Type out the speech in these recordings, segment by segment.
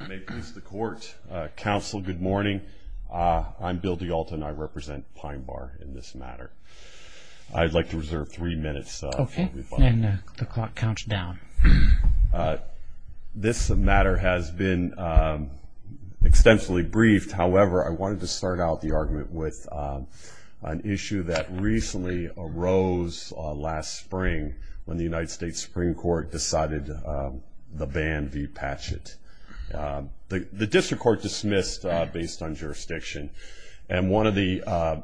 I may please the court. Counsel, good morning. I'm Bill DiAlto and I represent Pine Bar in this matter. I'd like to reserve three minutes. Okay. And the clock counts down. This matter has been extensively briefed. However, I wanted to start out the argument with an issue that recently arose last spring when the United States Supreme Court decided to ban v. Patchett. The district court dismissed based on jurisdiction. And one of the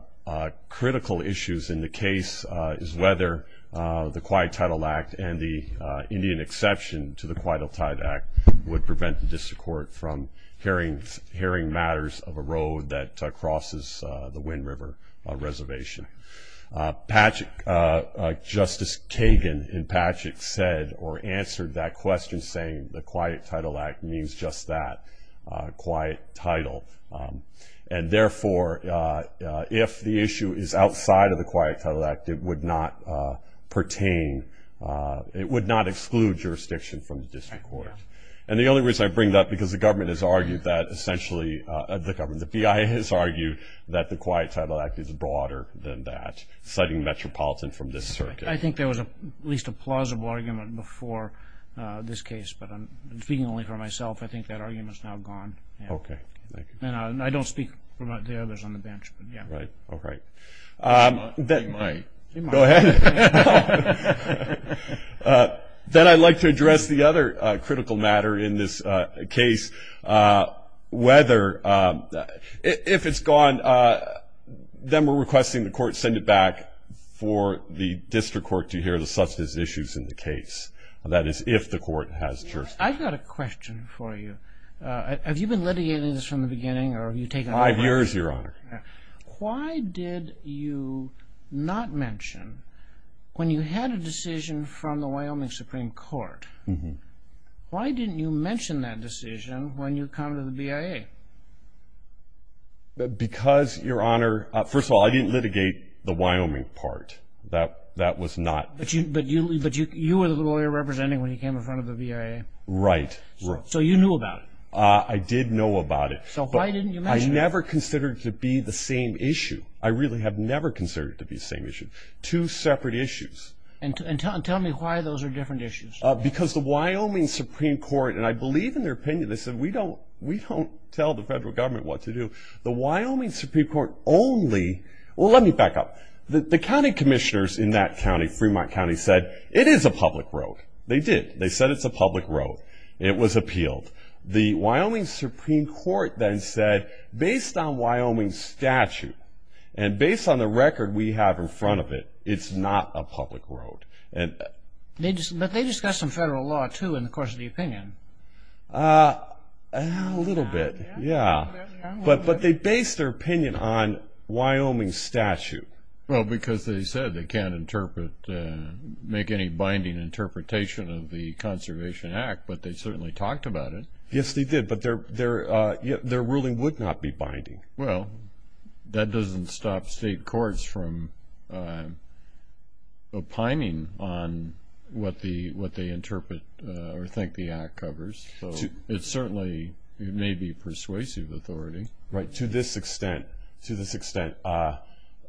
critical issues in the case is whether the Quiet Tidal Act and the Indian exception to the Quiet Tidal Act would prevent the district court from hearing matters of a road that crosses the Wind River Reservation. Justice Kagan in Patchett said or answered that question saying the Quiet Tidal Act means just that, quiet tidal. And therefore, if the issue is outside of the Quiet Tidal Act, it would not pertain, it would not exclude jurisdiction from the district court. And the only reason I bring that because the government has argued that essentially, the government, has argued that the Quiet Tidal Act is broader than that, citing Metropolitan from this circuit. I think there was at least a plausible argument before this case, but I'm speaking only for myself. I think that argument is now gone. Okay. Thank you. And I don't speak for the others on the bench, but yeah. Right. All right. You might. You might. Go ahead. Then I'd like to address the other critical matter in this case, whether, if it's gone, then we're requesting the court send it back for the district court to hear such issues in the case. That is, if the court has jurisdiction. I've got a question for you. Have you been litigating this from the beginning? Five years, Your Honor. Why did you not mention when you had a decision from the Wyoming Supreme Court, why didn't you mention that decision when you come to the BIA? Because, Your Honor, first of all, I didn't litigate the Wyoming part. That was not. But you were the lawyer representing when you came in front of the BIA. Right. So you knew about it. I did know about it. So why didn't you mention it? I never considered it to be the same issue. I really have never considered it to be the same issue. Two separate issues. And tell me why those are different issues. Because the Wyoming Supreme Court, and I believe in their opinion, they said, we don't tell the federal government what to do. The Wyoming Supreme Court only. Well, let me back up. The county commissioners in that county, Fremont County, said it is a public road. They did. They said it's a public road. It was appealed. The Wyoming Supreme Court then said, based on Wyoming's statute, and based on the record we have in front of it, it's not a public road. But they discussed some federal law, too, in the course of the opinion. A little bit, yeah. But they based their opinion on Wyoming's statute. Well, because they said they can't interpret, make any binding interpretation of the Conservation Act, but they certainly talked about it. Yes, they did. But their ruling would not be binding. Well, that doesn't stop state courts from opining on what they interpret or think the act covers. So it certainly may be persuasive authority. Right. To this extent, to this extent, that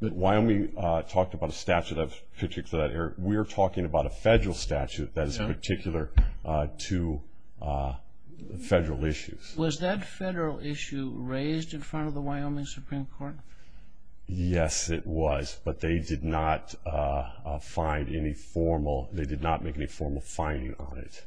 Wyoming talked about a statute of particular, we're talking about a federal statute that is particular to federal issues. Was that federal issue raised in front of the Wyoming Supreme Court? Yes, it was. But they did not make any formal finding on it.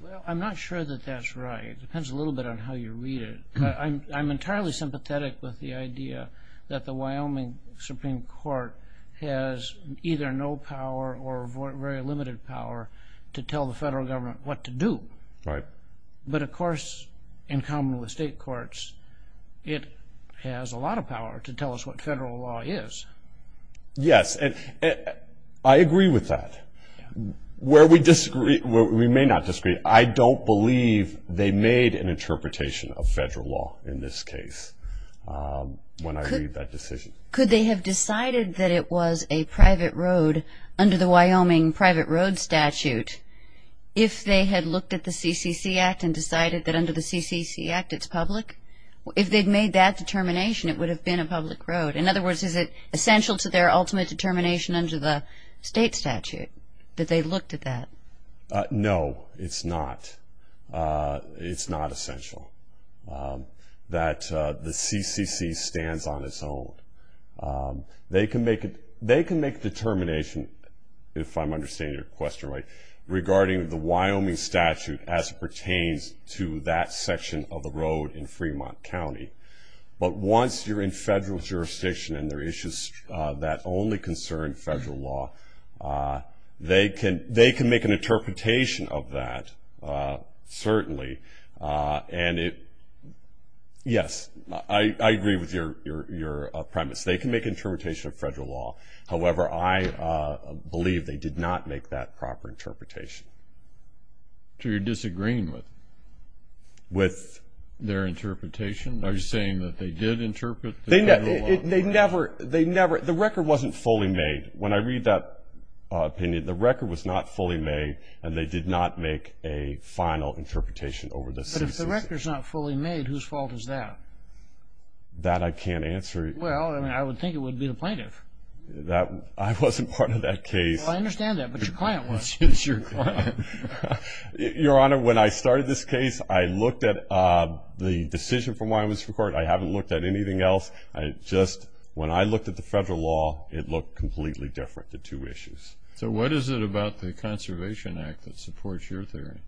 Well, I'm not sure that that's right. It depends a little bit on how you read it. I'm entirely sympathetic with the idea that the Wyoming Supreme Court has either no power or very limited power to tell the federal government what to do. Right. But, of course, in common with state courts, it has a lot of power to tell us what federal law is. Yes. I agree with that. Where we disagree, where we may not disagree, I don't believe they made an interpretation of federal law in this case when I read that decision. Could they have decided that it was a private road under the Wyoming private road statute if they had looked at the CCC Act and decided that under the CCC Act it's public? If they'd made that determination, it would have been a public road. In other words, is it essential to their ultimate determination under the state statute that they looked at that? No, it's not. It's not essential that the CCC stands on its own. They can make a determination, if I'm understanding your question right, regarding the Wyoming statute as it pertains to that section of the road in Fremont County. But once you're in federal jurisdiction and there are issues that only concern federal law, they can make an interpretation of that, certainly. Yes, I agree with your premise. They can make an interpretation of federal law. However, I believe they did not make that proper interpretation. So you're disagreeing with their interpretation? Are you saying that they did interpret the federal law? The record wasn't fully made. When I read that opinion, the record was not fully made, and they did not make a final interpretation over the CCC. But if the record's not fully made, whose fault is that? That I can't answer. Well, I would think it would be the plaintiff. I wasn't part of that case. Well, I understand that, but your client was. It's your client. Your Honor, when I started this case, I looked at the decision from Wyoming Supreme Court. I haven't looked at anything else. Just when I looked at the federal law, it looked completely different, the two issues. So what is it about the Conservation Act that supports your theory?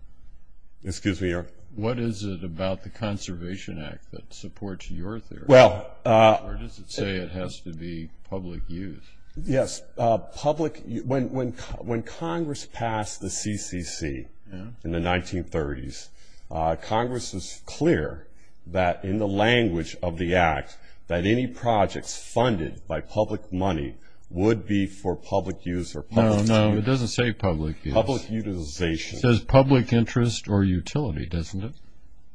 Excuse me, Your Honor. What is it about the Conservation Act that supports your theory? Or does it say it has to be public use? Yes. When Congress passed the CCC in the 1930s, Congress was clear that in the language of the Act that any projects funded by public money would be for public use or public utility. No, no, it doesn't say public use. Public utilization. It says public interest or utility, doesn't it?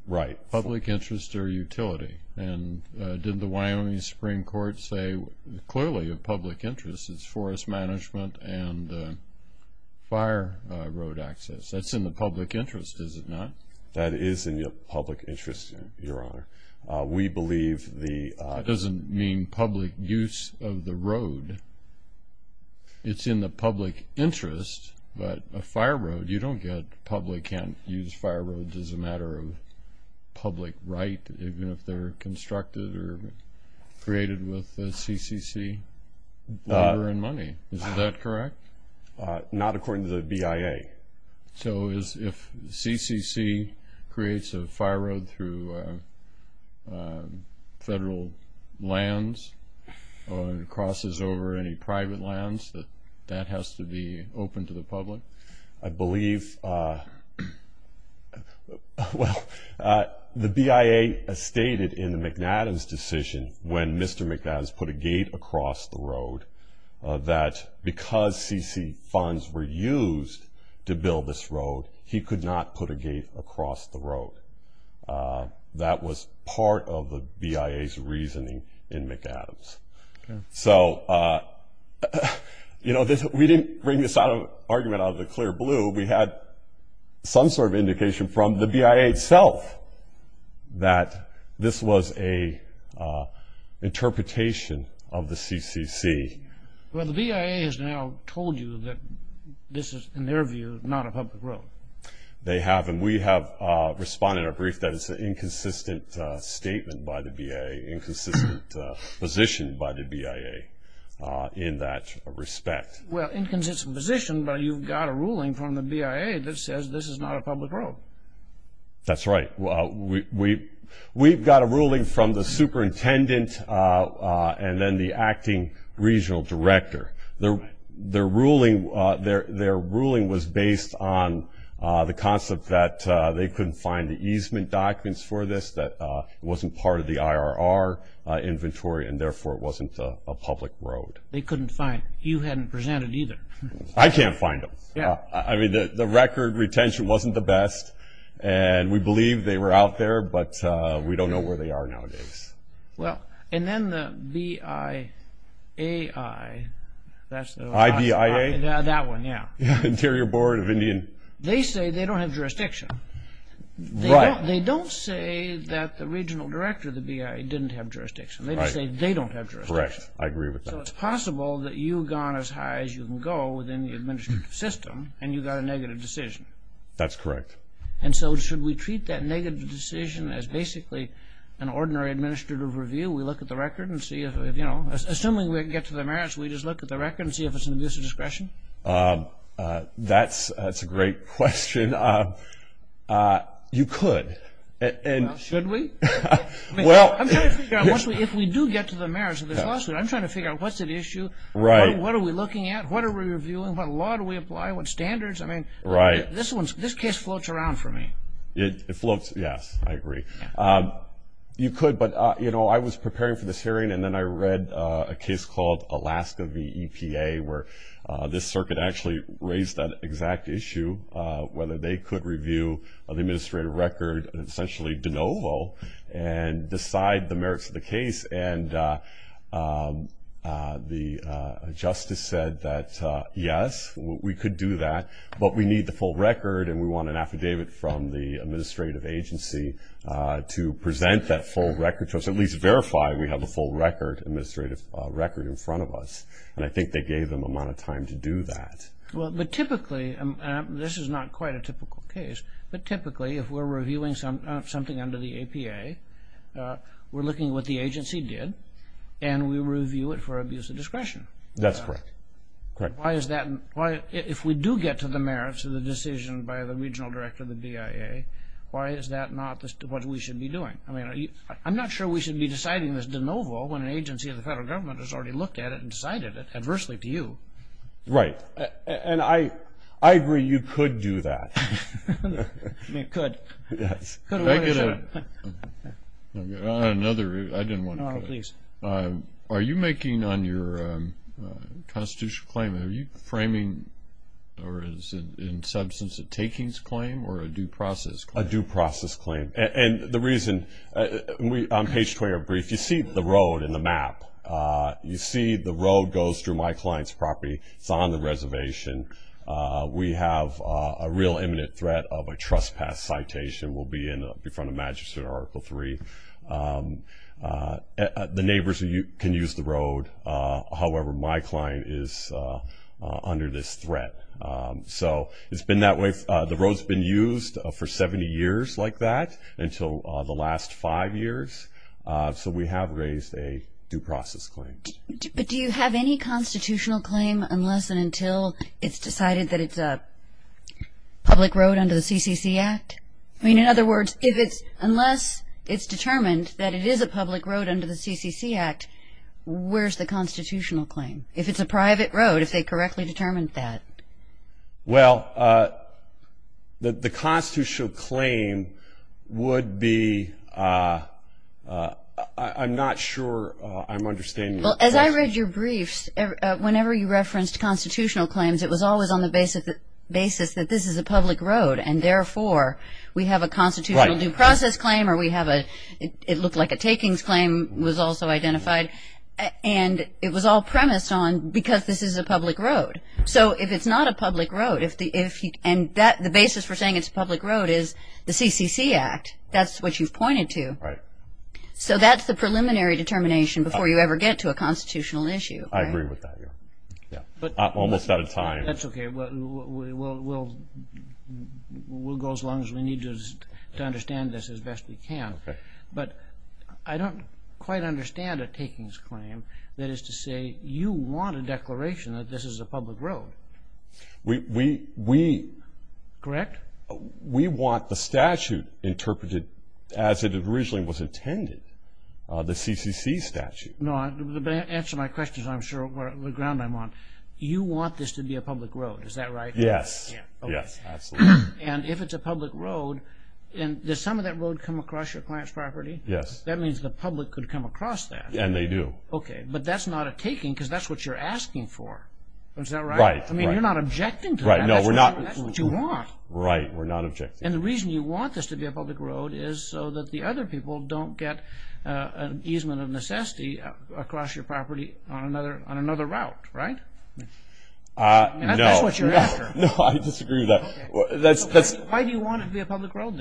Right. Public interest or utility. And didn't the Wyoming Supreme Court say clearly of public interest is forest management and fire road access. That's in the public interest, is it not? That is in the public interest, Your Honor. We believe the – That doesn't mean public use of the road. It's in the public interest, but a fire road, you don't get public – constructed or created with CCC labor and money, is that correct? Not according to the BIA. So if CCC creates a fire road through federal lands or crosses over any private lands, that has to be open to the public? I believe – well, the BIA stated in the McAdams decision when Mr. McAdams put a gate across the road that because CCC funds were used to build this road, he could not put a gate across the road. That was part of the BIA's reasoning in McAdams. So, you know, we didn't bring this argument out of the clear blue. We had some sort of indication from the BIA itself that this was an interpretation of the CCC. Well, the BIA has now told you that this is, in their view, not a public road. They have, and we have responded in a brief that it's an inconsistent statement by the BIA, inconsistent position by the BIA in that respect. Well, inconsistent position, but you've got a ruling from the BIA that says this is not a public road. That's right. We've got a ruling from the superintendent and then the acting regional director. Their ruling was based on the concept that they couldn't find the easement documents for this, that it wasn't part of the IRR inventory and, therefore, it wasn't a public road. They couldn't find it. You hadn't presented either. I can't find them. Yeah. I mean, the record retention wasn't the best, and we believe they were out there, but we don't know where they are nowadays. Well, and then the BIAI. IBIA? That one, yeah. Interior Board of Indian. They say they don't have jurisdiction. Right. They don't say that the regional director of the BIA didn't have jurisdiction. Right. They just say they don't have jurisdiction. Correct. I agree with that. So it's possible that you've gone as high as you can go within the administrative system and you got a negative decision. That's correct. And so should we treat that negative decision as basically an ordinary administrative review? We look at the record and see if, you know, assuming we can get to the merits, we just look at the record and see if it's an abuse of discretion? That's a great question. And you could. Should we? I'm trying to figure out if we do get to the merits of this lawsuit, I'm trying to figure out what's at issue, what are we looking at, what are we reviewing, what law do we apply, what standards? I mean, this case floats around for me. It floats, yes, I agree. You could, but, you know, I was preparing for this hearing and then I read a case called Alaska v. EPA where this circuit actually raised that exact issue, whether they could review the administrative record, essentially de novo, and decide the merits of the case. And the justice said that, yes, we could do that, but we need the full record and we want an affidavit from the administrative agency to present that full record, to at least verify we have a full record, administrative record in front of us. And I think they gave them the amount of time to do that. Well, but typically, and this is not quite a typical case, but typically if we're reviewing something under the APA, we're looking at what the agency did and we review it for abuse of discretion. That's correct. Why is that? If we do get to the merits of the decision by the regional director of the BIA, why is that not what we should be doing? I mean, I'm not sure we should be deciding this de novo when an agency of the federal government has already looked at it and decided it adversely to you. Right. And I agree you could do that. You could. Yes. Could I get another? I didn't want to go there. No, no, please. Are you making on your constitutional claim, are you framing or is it in substance a takings claim or a due process claim? A due process claim. And the reason, on page 20 of our brief, you see the road in the map. You see the road goes through my client's property. It's on the reservation. We have a real imminent threat of a trespass citation. We'll be in front of Magistrate Article 3. The neighbors can use the road. However, my client is under this threat. So it's been that way. The road's been used for 70 years like that until the last five years. So we have raised a due process claim. But do you have any constitutional claim unless and until it's decided that it's a public road under the CCC Act? I mean, in other words, unless it's determined that it is a public road under the CCC Act, where's the constitutional claim? If it's a private road, if they correctly determined that. Well, the constitutional claim would be, I'm not sure I'm understanding. Well, as I read your briefs, whenever you referenced constitutional claims, it was always on the basis that this is a public road and therefore we have a constitutional due process claim or it looked like a takings claim was also identified. And it was all premised on because this is a public road. So if it's not a public road, and the basis for saying it's a public road is the CCC Act, that's what you've pointed to. So that's the preliminary determination before you ever get to a constitutional issue. I agree with that. Almost out of time. That's okay. We'll go as long as we need to understand this as best we can. But I don't quite understand a takings claim that is to say you want a declaration that this is a public road. Correct? We want the statute interpreted as it originally was intended, the CCC statute. No, to answer my question, I'm sure, the ground I'm on, you want this to be a public road, is that right? Yes. Yes, absolutely. And if it's a public road, does some of that road come across your client's property? Yes. That means the public could come across that. And they do. Okay. But that's not a taking because that's what you're asking for. Is that right? Right. I mean, you're not objecting to that. No, we're not. That's what you want. Right. We're not objecting. And the reason you want this to be a public road is so that the other people don't get an easement of necessity across your property on another route, right? No. And that's what you're after. No, I disagree with that. Why do you want it to be a public road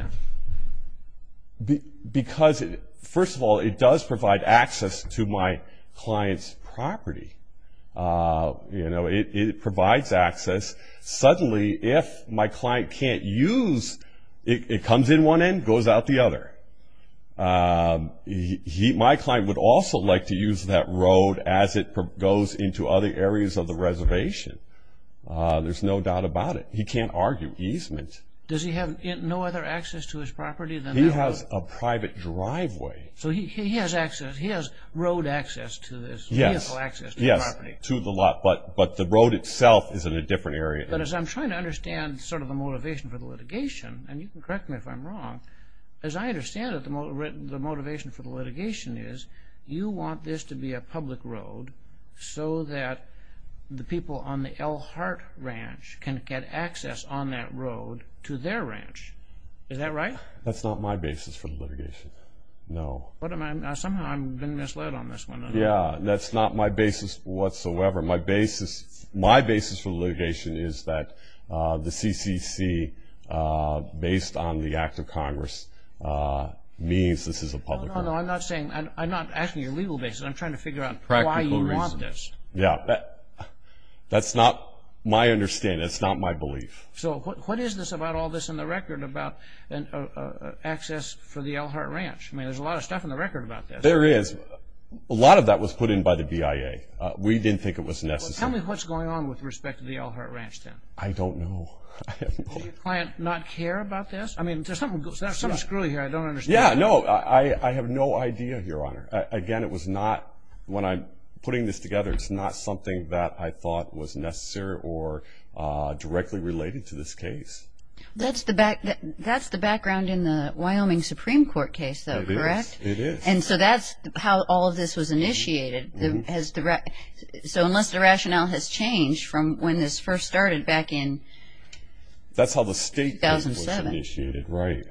then? Because, first of all, it does provide access to my client's property. You know, it provides access. Suddenly, if my client can't use it, it comes in one end, goes out the other. My client would also like to use that road as it goes into other areas of the reservation. There's no doubt about it. He can't argue easement. Does he have no other access to his property than that road? He has a private driveway. So he has access. He has road access to this vehicle access to the property. Yes. To the lot. But the road itself is in a different area. But as I'm trying to understand sort of the motivation for the litigation, and you can correct me if I'm wrong, as I understand it, the motivation for the litigation is you want this to be a public road so that the people on the Elkhart Ranch can get access on that road to their ranch. Is that right? That's not my basis for the litigation. No. Somehow I've been misled on this one. Yeah. That's not my basis whatsoever. My basis for the litigation is that the CCC, based on the Act of Congress, means this is a public road. No, no, no. I'm not asking your legal basis. I'm trying to figure out why you want this. Practical reasons. Yeah. That's not my understanding. That's not my belief. So what is this about all this in the record about access for the Elkhart Ranch? I mean, there's a lot of stuff in the record about this. There is. A lot of that was put in by the BIA. We didn't think it was necessary. Well, tell me what's going on with respect to the Elkhart Ranch then. I don't know. Did your client not care about this? I mean, there's something screwy here I don't understand. Yeah, no. I have no idea, Your Honor. Again, when I'm putting this together, it's not something that I thought was necessary or directly related to this case. That's the background in the Wyoming Supreme Court case, though, correct? It is. It is. And so that's how all of this was initiated. So unless the rationale has changed from when this first started back in 2007. That's how the state was initiated, right.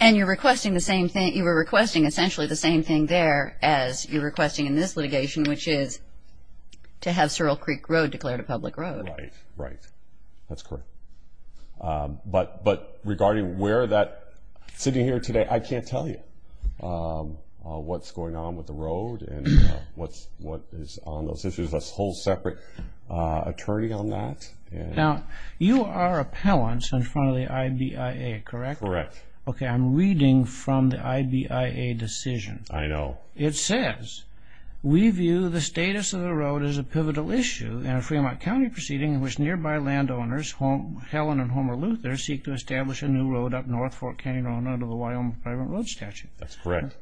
And you were requesting essentially the same thing there as you're requesting in this litigation, which is to have Sorel Creek Road declared a public road. Right, right. That's correct. But regarding where that sitting here today, I can't tell you what's going on with the road and what is on those issues. There's a whole separate attorney on that. Now, you are appellants in front of the IBIA, correct? Correct. Okay, I'm reading from the IBIA decision. I know. It says, we view the status of the road as a pivotal issue in a Fremont County proceeding in which nearby landowners, Helen and Homer Luther, seek to establish a new road up north for a county owner under the Wyoming Private Road Statute. That's correct.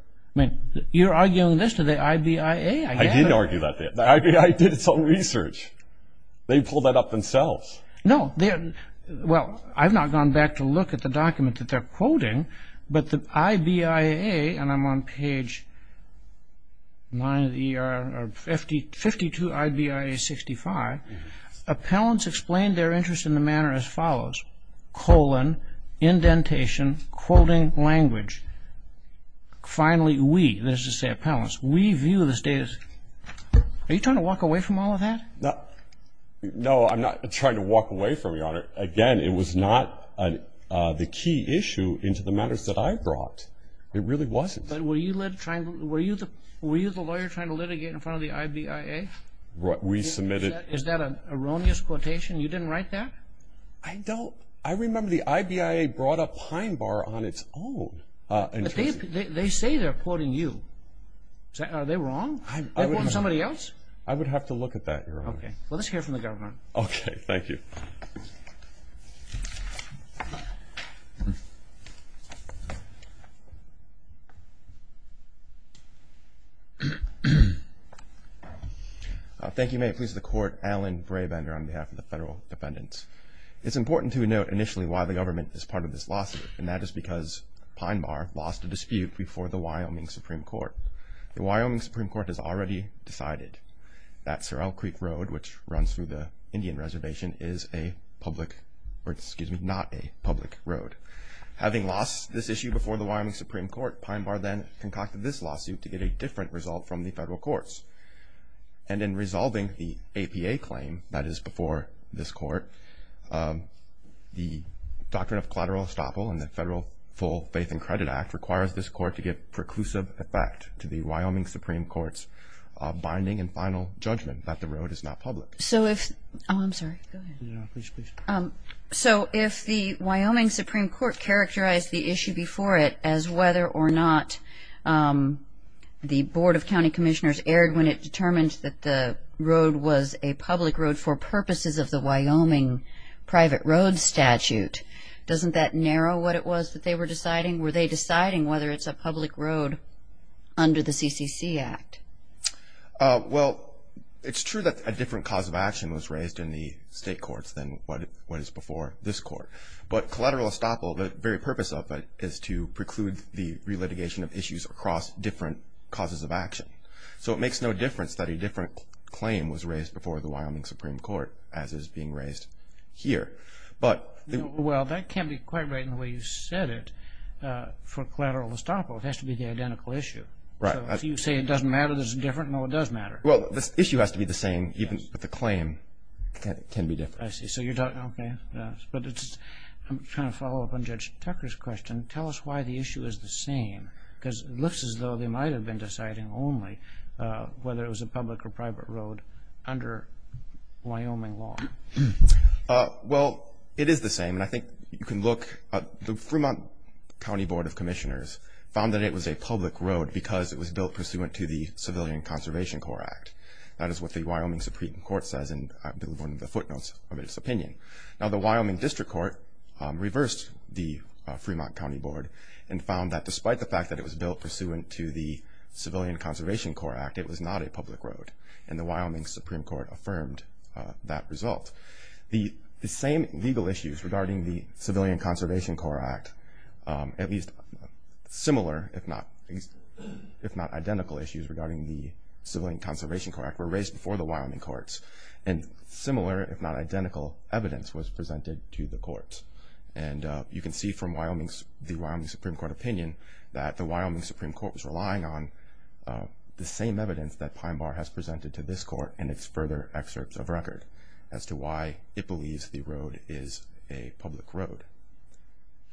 You're arguing this to the IBIA, I guess? I did argue that. The IBIA did its own research. They pulled that up themselves. Well, I've not gone back to look at the document that they're quoting, but the IBIA, and I'm on page 52, IBIA 65, appellants explained their interest in the manner as follows, colon, indentation, quoting language. Finally, we, that is to say appellants, we view the status. Are you trying to walk away from all of that? No, I'm not trying to walk away from it, Your Honor. Again, it was not the key issue into the matters that I brought. It really wasn't. But were you the lawyer trying to litigate in front of the IBIA? We submitted. Is that an erroneous quotation? You didn't write that? I don't. I remember the IBIA brought up Pine Bar on its own. They say they're quoting you. Are they wrong? Are they quoting somebody else? I would have to look at that, Your Honor. Okay. Well, let's hear from the government. Okay. Thank you. Thank you. May it please the Court, Alan Brabender on behalf of the federal defendants. It's important to note initially why the government is part of this lawsuit, and that is because Pine Bar lost a dispute before the Wyoming Supreme Court. The Wyoming Supreme Court has already decided that Sorrel Creek Road, which runs through the Indian Reservation, is a public road. Having lost this issue before the Wyoming Supreme Court, Pine Bar then concocted this lawsuit to get a different result from the federal courts. And in resolving the APA claim that is before this court, the Doctrine of Collateral Estoppel and the Federal Full Faith and Credit Act requires this court to give preclusive effect to the Wyoming Supreme Court's binding and final judgment that the road is not public. Oh, I'm sorry. Go ahead. No, please, please. So if the Wyoming Supreme Court characterized the issue before it as whether or not the Board of County Commissioners erred when it determined that the road was a public road for purposes of the Wyoming private road statute, doesn't that narrow what it was that they were deciding? Were they deciding whether it's a public road under the CCC Act? Well, it's true that a different cause of action was raised in the state courts than what is before this court. But collateral estoppel, the very purpose of it, is to preclude the relitigation of issues across different causes of action. So it makes no difference that a different claim was raised before the Wyoming Supreme Court, as is being raised here. Well, that can't be quite right in the way you said it. For collateral estoppel, it has to be the identical issue. So if you say it doesn't matter that it's different, no, it does matter. Well, the issue has to be the same, but the claim can be different. I see. Okay. But I'm trying to follow up on Judge Tucker's question. Tell us why the issue is the same, because it looks as though they might have been deciding only whether it was a public or private road under Wyoming law. Well, it is the same, and I think you can look. The Fremont County Board of Commissioners found that it was a public road because it was built pursuant to the Civilian Conservation Corps Act. That is what the Wyoming Supreme Court says in one of the footnotes of its opinion. Now, the Wyoming District Court reversed the Fremont County Board and found that despite the fact that it was built pursuant to the Civilian Conservation Corps Act, it was not a public road, and the Wyoming Supreme Court affirmed that result. The same legal issues regarding the Civilian Conservation Corps Act, at least similar if not identical issues regarding the Civilian Conservation Corps Act, were raised before the Wyoming courts, and similar if not identical evidence was presented to the courts. And you can see from the Wyoming Supreme Court opinion that the Wyoming Supreme Court was relying on the same evidence that Pine Bar has presented to this court in its further excerpts of record as to why it believes the road is a public road.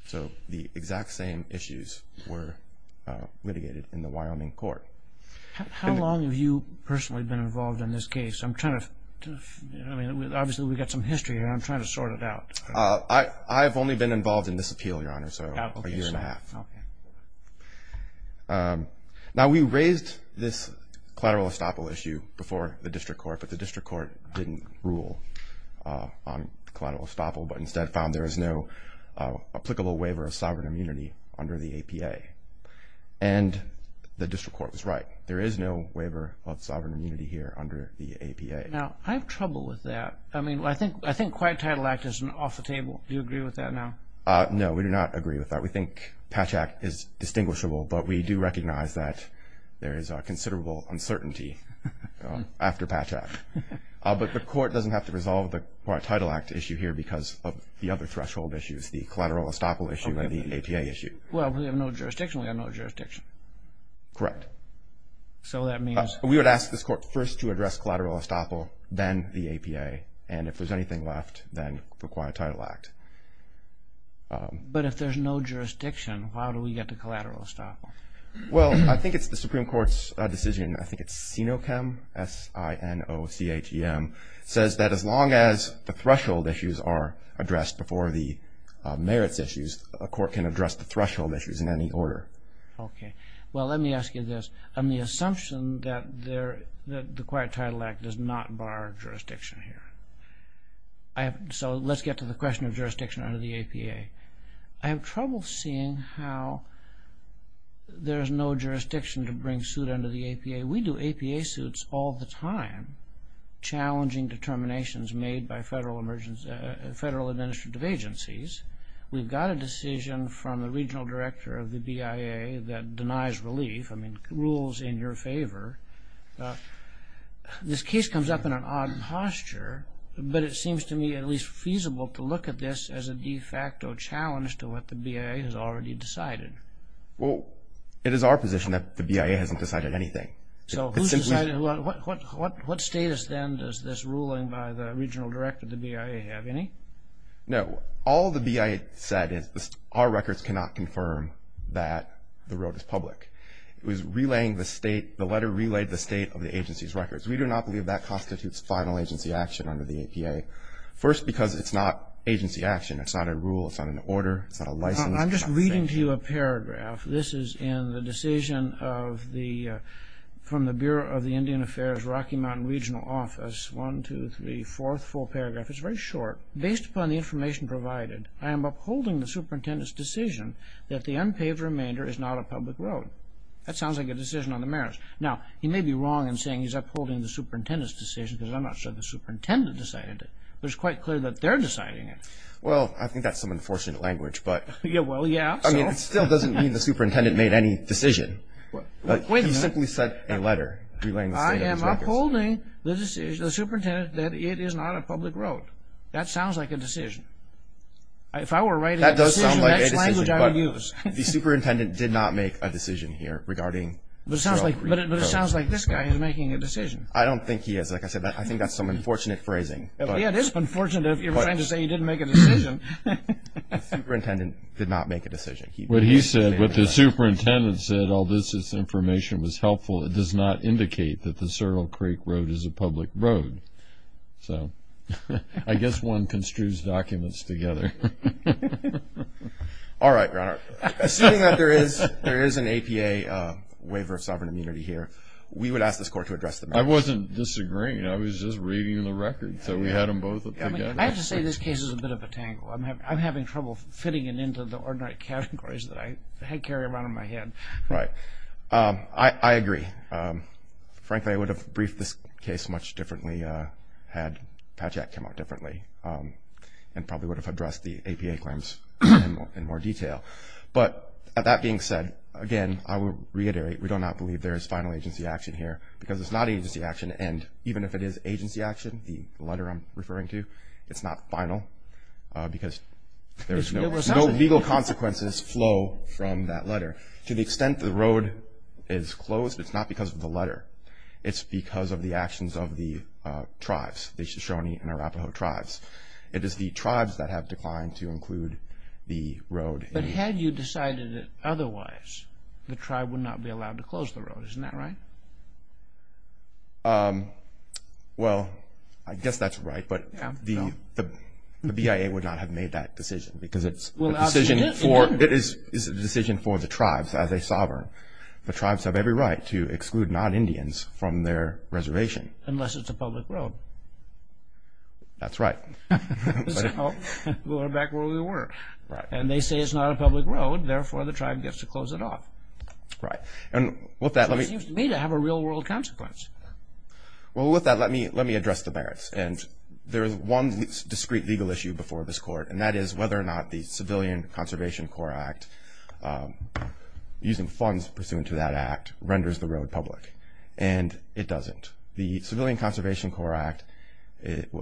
So the exact same issues were litigated in the Wyoming court. How long have you personally been involved in this case? I'm trying to, I mean, obviously we've got some history here, and I'm trying to sort it out. I've only been involved in this appeal, Your Honor, so a year and a half. Now, we raised this collateral estoppel issue before the district court, but the district court didn't rule on collateral estoppel but instead found there is no applicable waiver of sovereign immunity under the APA. And the district court was right. There is no waiver of sovereign immunity here under the APA. Now, I have trouble with that. I mean, I think Quiet Title Act is off the table. Do you agree with that now? No, we do not agree with that. We think Patch Act is distinguishable, but we do recognize that there is considerable uncertainty after Patch Act. But the court doesn't have to resolve the Quiet Title Act issue here because of the other threshold issues, the collateral estoppel issue and the APA issue. Well, we have no jurisdiction. We have no jurisdiction. Correct. So that means? We would ask this court first to address collateral estoppel, then the APA, and if there's anything left, then the Quiet Title Act. But if there's no jurisdiction, how do we get to collateral estoppel? Well, I think it's the Supreme Court's decision. I think it's SINOCHEM, S-I-N-O-C-H-E-M, says that as long as the threshold issues are addressed before the merits issues, a court can address the threshold issues in any order. Okay. Well, let me ask you this. I'm the assumption that the Quiet Title Act does not bar jurisdiction here. So let's get to the question of jurisdiction under the APA. I have trouble seeing how there's no jurisdiction to bring suit under the APA. We do APA suits all the time challenging determinations made by federal administrative agencies. We've got a decision from the regional director of the BIA that denies relief. I mean, rules in your favor. This case comes up in an odd posture, but it seems to me at least feasible to look at this as a de facto challenge to what the BIA has already decided. Well, it is our position that the BIA hasn't decided anything. So who's decided? What status then does this ruling by the regional director of the BIA have? Any? No. All the BIA said is our records cannot confirm that the road is public. It was relaying the state, the letter relayed the state of the agency's records. We do not believe that constitutes final agency action under the APA. First, because it's not agency action. It's not a rule. It's not an order. It's not a license. I'm just reading to you a paragraph. This is in the decision of the, from the Bureau of the Indian Affairs Rocky Mountain Regional Office. One, two, three, fourth full paragraph. It's very short. Based upon the information provided, I am upholding the superintendent's decision that the unpaved remainder is not a public road. That sounds like a decision on the merits. Now, he may be wrong in saying he's upholding the superintendent's decision because I'm not sure the superintendent decided it. But it's quite clear that they're deciding it. Well, I think that's some unfortunate language, but. Well, yeah. I mean, it still doesn't mean the superintendent made any decision. But he simply said a letter relaying the state of his records. I am upholding the superintendent that it is not a public road. That sounds like a decision. If I were writing a decision, that's the language I would use. That does sound like a decision, but the superintendent did not make a decision here regarding. But it sounds like this guy is making a decision. I don't think he is. Like I said, I think that's some unfortunate phrasing. Yeah, it is unfortunate if you're trying to say he didn't make a decision. The superintendent did not make a decision. What he said, what the superintendent said, all this information was helpful. It does not indicate that the Cerro Creek Road is a public road. So I guess one construes documents together. All right, Your Honor. Assuming that there is an APA waiver of sovereign immunity here, we would ask this court to address the matter. I wasn't disagreeing. I was just reading the records. So we had them both together. I have to say this case is a bit of a tangle. I'm having trouble fitting it into the ordinary categories that I carry around in my head. Right. I agree. Frankly, I would have briefed this case much differently had Patchak come out differently and probably would have addressed the APA claims in more detail. But that being said, again, I will reiterate, we do not believe there is final agency action here because it's not agency action. And even if it is agency action, the letter I'm referring to, it's not final because there's no legal consequences flow from that letter. To the extent the road is closed, it's not because of the letter. It's because of the actions of the tribes, the Shoshone and Arapaho tribes. It is the tribes that have declined to include the road. But had you decided otherwise, the tribe would not be allowed to close the road. Isn't that right? Well, I guess that's right, but the BIA would not have made that decision because it is a decision for the tribes as a sovereign. The tribes have every right to exclude non-Indians from their reservation. Unless it's a public road. That's right. We're back where we were. And they say it's not a public road, therefore the tribe gets to close it off. Right. It seems to me to have a real-world consequence. Well, with that, let me address the merits. There is one discrete legal issue before this Court, and that is whether or not the Civilian Conservation Corps Act, using funds pursuant to that act, renders the road public. And it doesn't. The Civilian Conservation Corps Act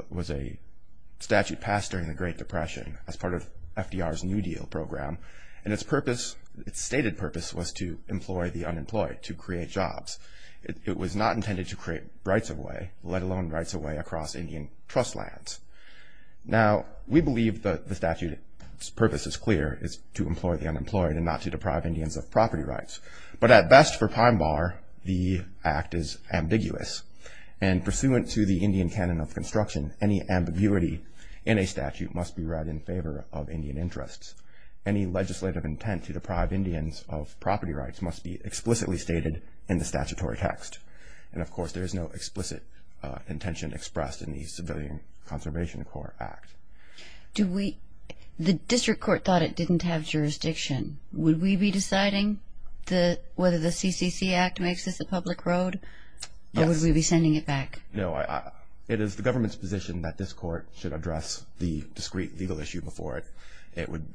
was a statute passed during the Great Depression as part of FDR's New Deal program, and its stated purpose was to employ the unemployed, to create jobs. It was not intended to create rights-of-way, let alone rights-of-way across Indian trust lands. Now, we believe the statute's purpose is clear, it's to employ the unemployed and not to deprive Indians of property rights. But at best, for Pine Bar, the act is ambiguous. And pursuant to the Indian canon of construction, any ambiguity in a statute must be read in favor of Indian interests. Any legislative intent to deprive Indians of property rights must be explicitly stated in the statutory text. And, of course, there is no explicit intention expressed in the Civilian Conservation Corps Act. The district court thought it didn't have jurisdiction. Would we be deciding whether the CCC Act makes this a public road, or would we be sending it back? No, it is the government's position that this court should address the discrete legal issue before it. It would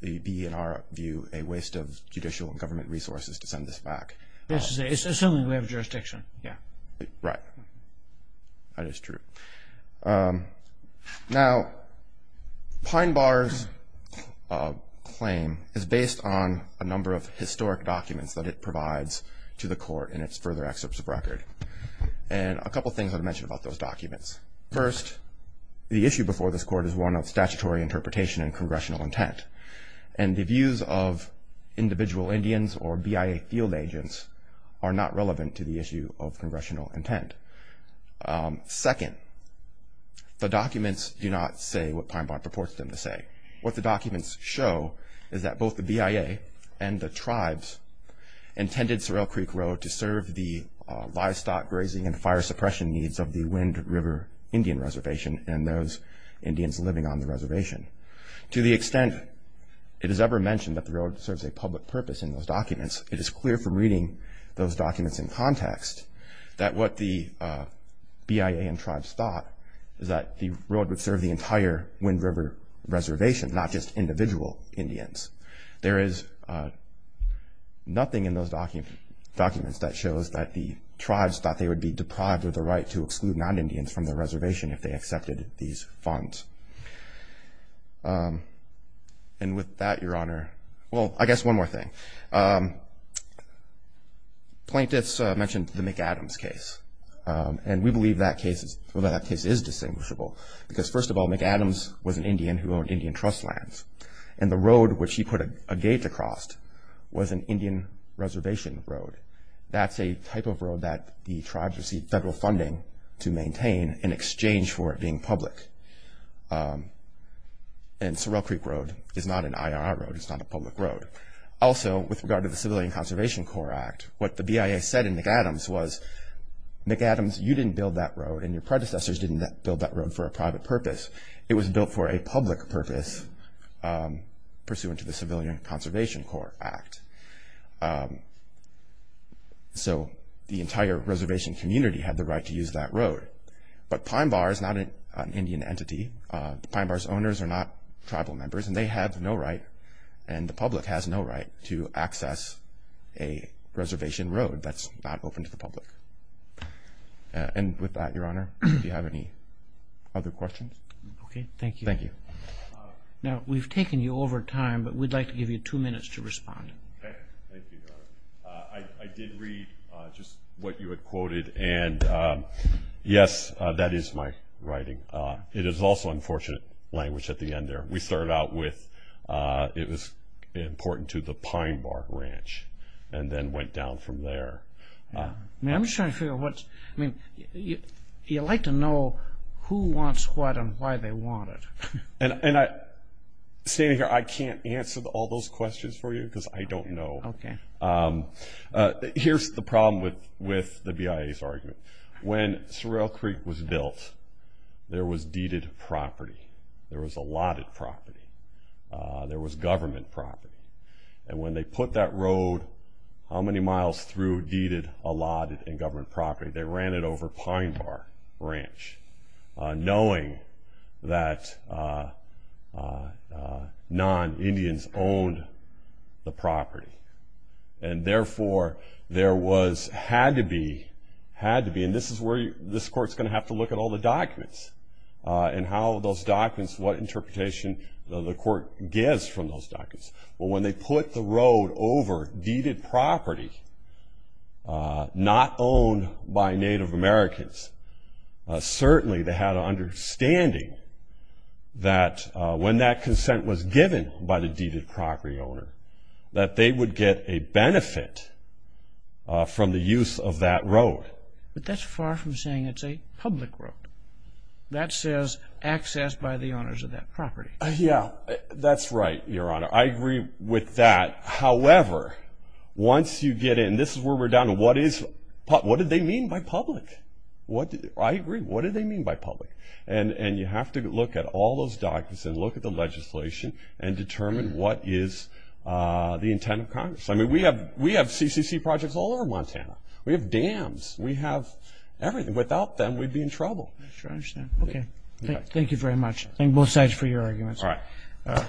be, in our view, a waste of judicial and government resources to send this back. Assuming we have jurisdiction. Right. That is true. Now, Pine Bar's claim is based on a number of historic documents and a couple things I'd mention about those documents. First, the issue before this court is one of statutory interpretation and congressional intent. And the views of individual Indians or BIA field agents are not relevant to the issue of congressional intent. Second, the documents do not say what Pine Bar purports them to say. What the documents show is that both the BIA and the tribes intended Sorrel Creek Road to serve the livestock grazing and fire suppression needs of the Wind River Indian Reservation and those Indians living on the reservation. To the extent it is ever mentioned that the road serves a public purpose in those documents, it is clear from reading those documents in context that what the BIA and tribes thought is that the road would serve the entire Wind River Reservation, not just individual Indians. There is nothing in those documents that shows that the tribes thought they would be deprived of the right to exclude non-Indians from the reservation if they accepted these funds. And with that, Your Honor, well, I guess one more thing. Plaintiffs mentioned the McAdams case. And we believe that case is distinguishable because, first of all, McAdams was an Indian who owned Indian trust lands. And the road which he put a gate across was an Indian reservation road. That's a type of road that the tribes received federal funding to maintain in exchange for it being public. And Sorrel Creek Road is not an IRR road. It's not a public road. Also, with regard to the Civilian Conservation Corps Act, what the BIA said in McAdams was, McAdams, you didn't build that road and your predecessors didn't build that road for a private purpose. It was built for a public purpose pursuant to the Civilian Conservation Corps Act. So the entire reservation community had the right to use that road. But Pine Bar is not an Indian entity. Pine Bar's owners are not tribal members, and they have no right, and the public has no right to access a reservation road that's not open to the public. And with that, Your Honor, do you have any other questions? Okay. Thank you. Thank you. Now, we've taken you over time, but we'd like to give you two minutes to respond. Okay. Thank you, Your Honor. I did read just what you had quoted, and yes, that is my writing. It is also unfortunate language at the end there. We started out with it was important to the Pine Bar Ranch and then went down from there. I'm just trying to figure out what's, I mean, you like to know who wants what and why they want it. And standing here, I can't answer all those questions for you because I don't know. Okay. Here's the problem with the BIA's argument. When Sorrel Creek was built, there was deeded property. There was allotted property. There was government property. And when they put that road how many miles through deeded, allotted, and governed property? They ran it over Pine Bar Ranch, knowing that non-Indians owned the property. And therefore, there was, had to be, had to be, and this is where this Court's going to have to look at all the documents and how those documents, what interpretation the Court gets from those documents. Well, when they put the road over deeded property not owned by Native Americans, certainly they had an understanding that when that consent was given by the deeded property owner, that they would get a benefit from the use of that road. But that's far from saying it's a public road. That says access by the owners of that property. Yeah, that's right, Your Honor. I agree with that. However, once you get in, this is where we're down to what is, what do they mean by public? I agree. What do they mean by public? And you have to look at all those documents and look at the legislation and determine what is the intent of Congress. I mean, we have CCC projects all over Montana. We have dams. We have everything. Without them, we'd be in trouble. I understand. Okay. Thank you very much. Thank both sides for your arguments. All right.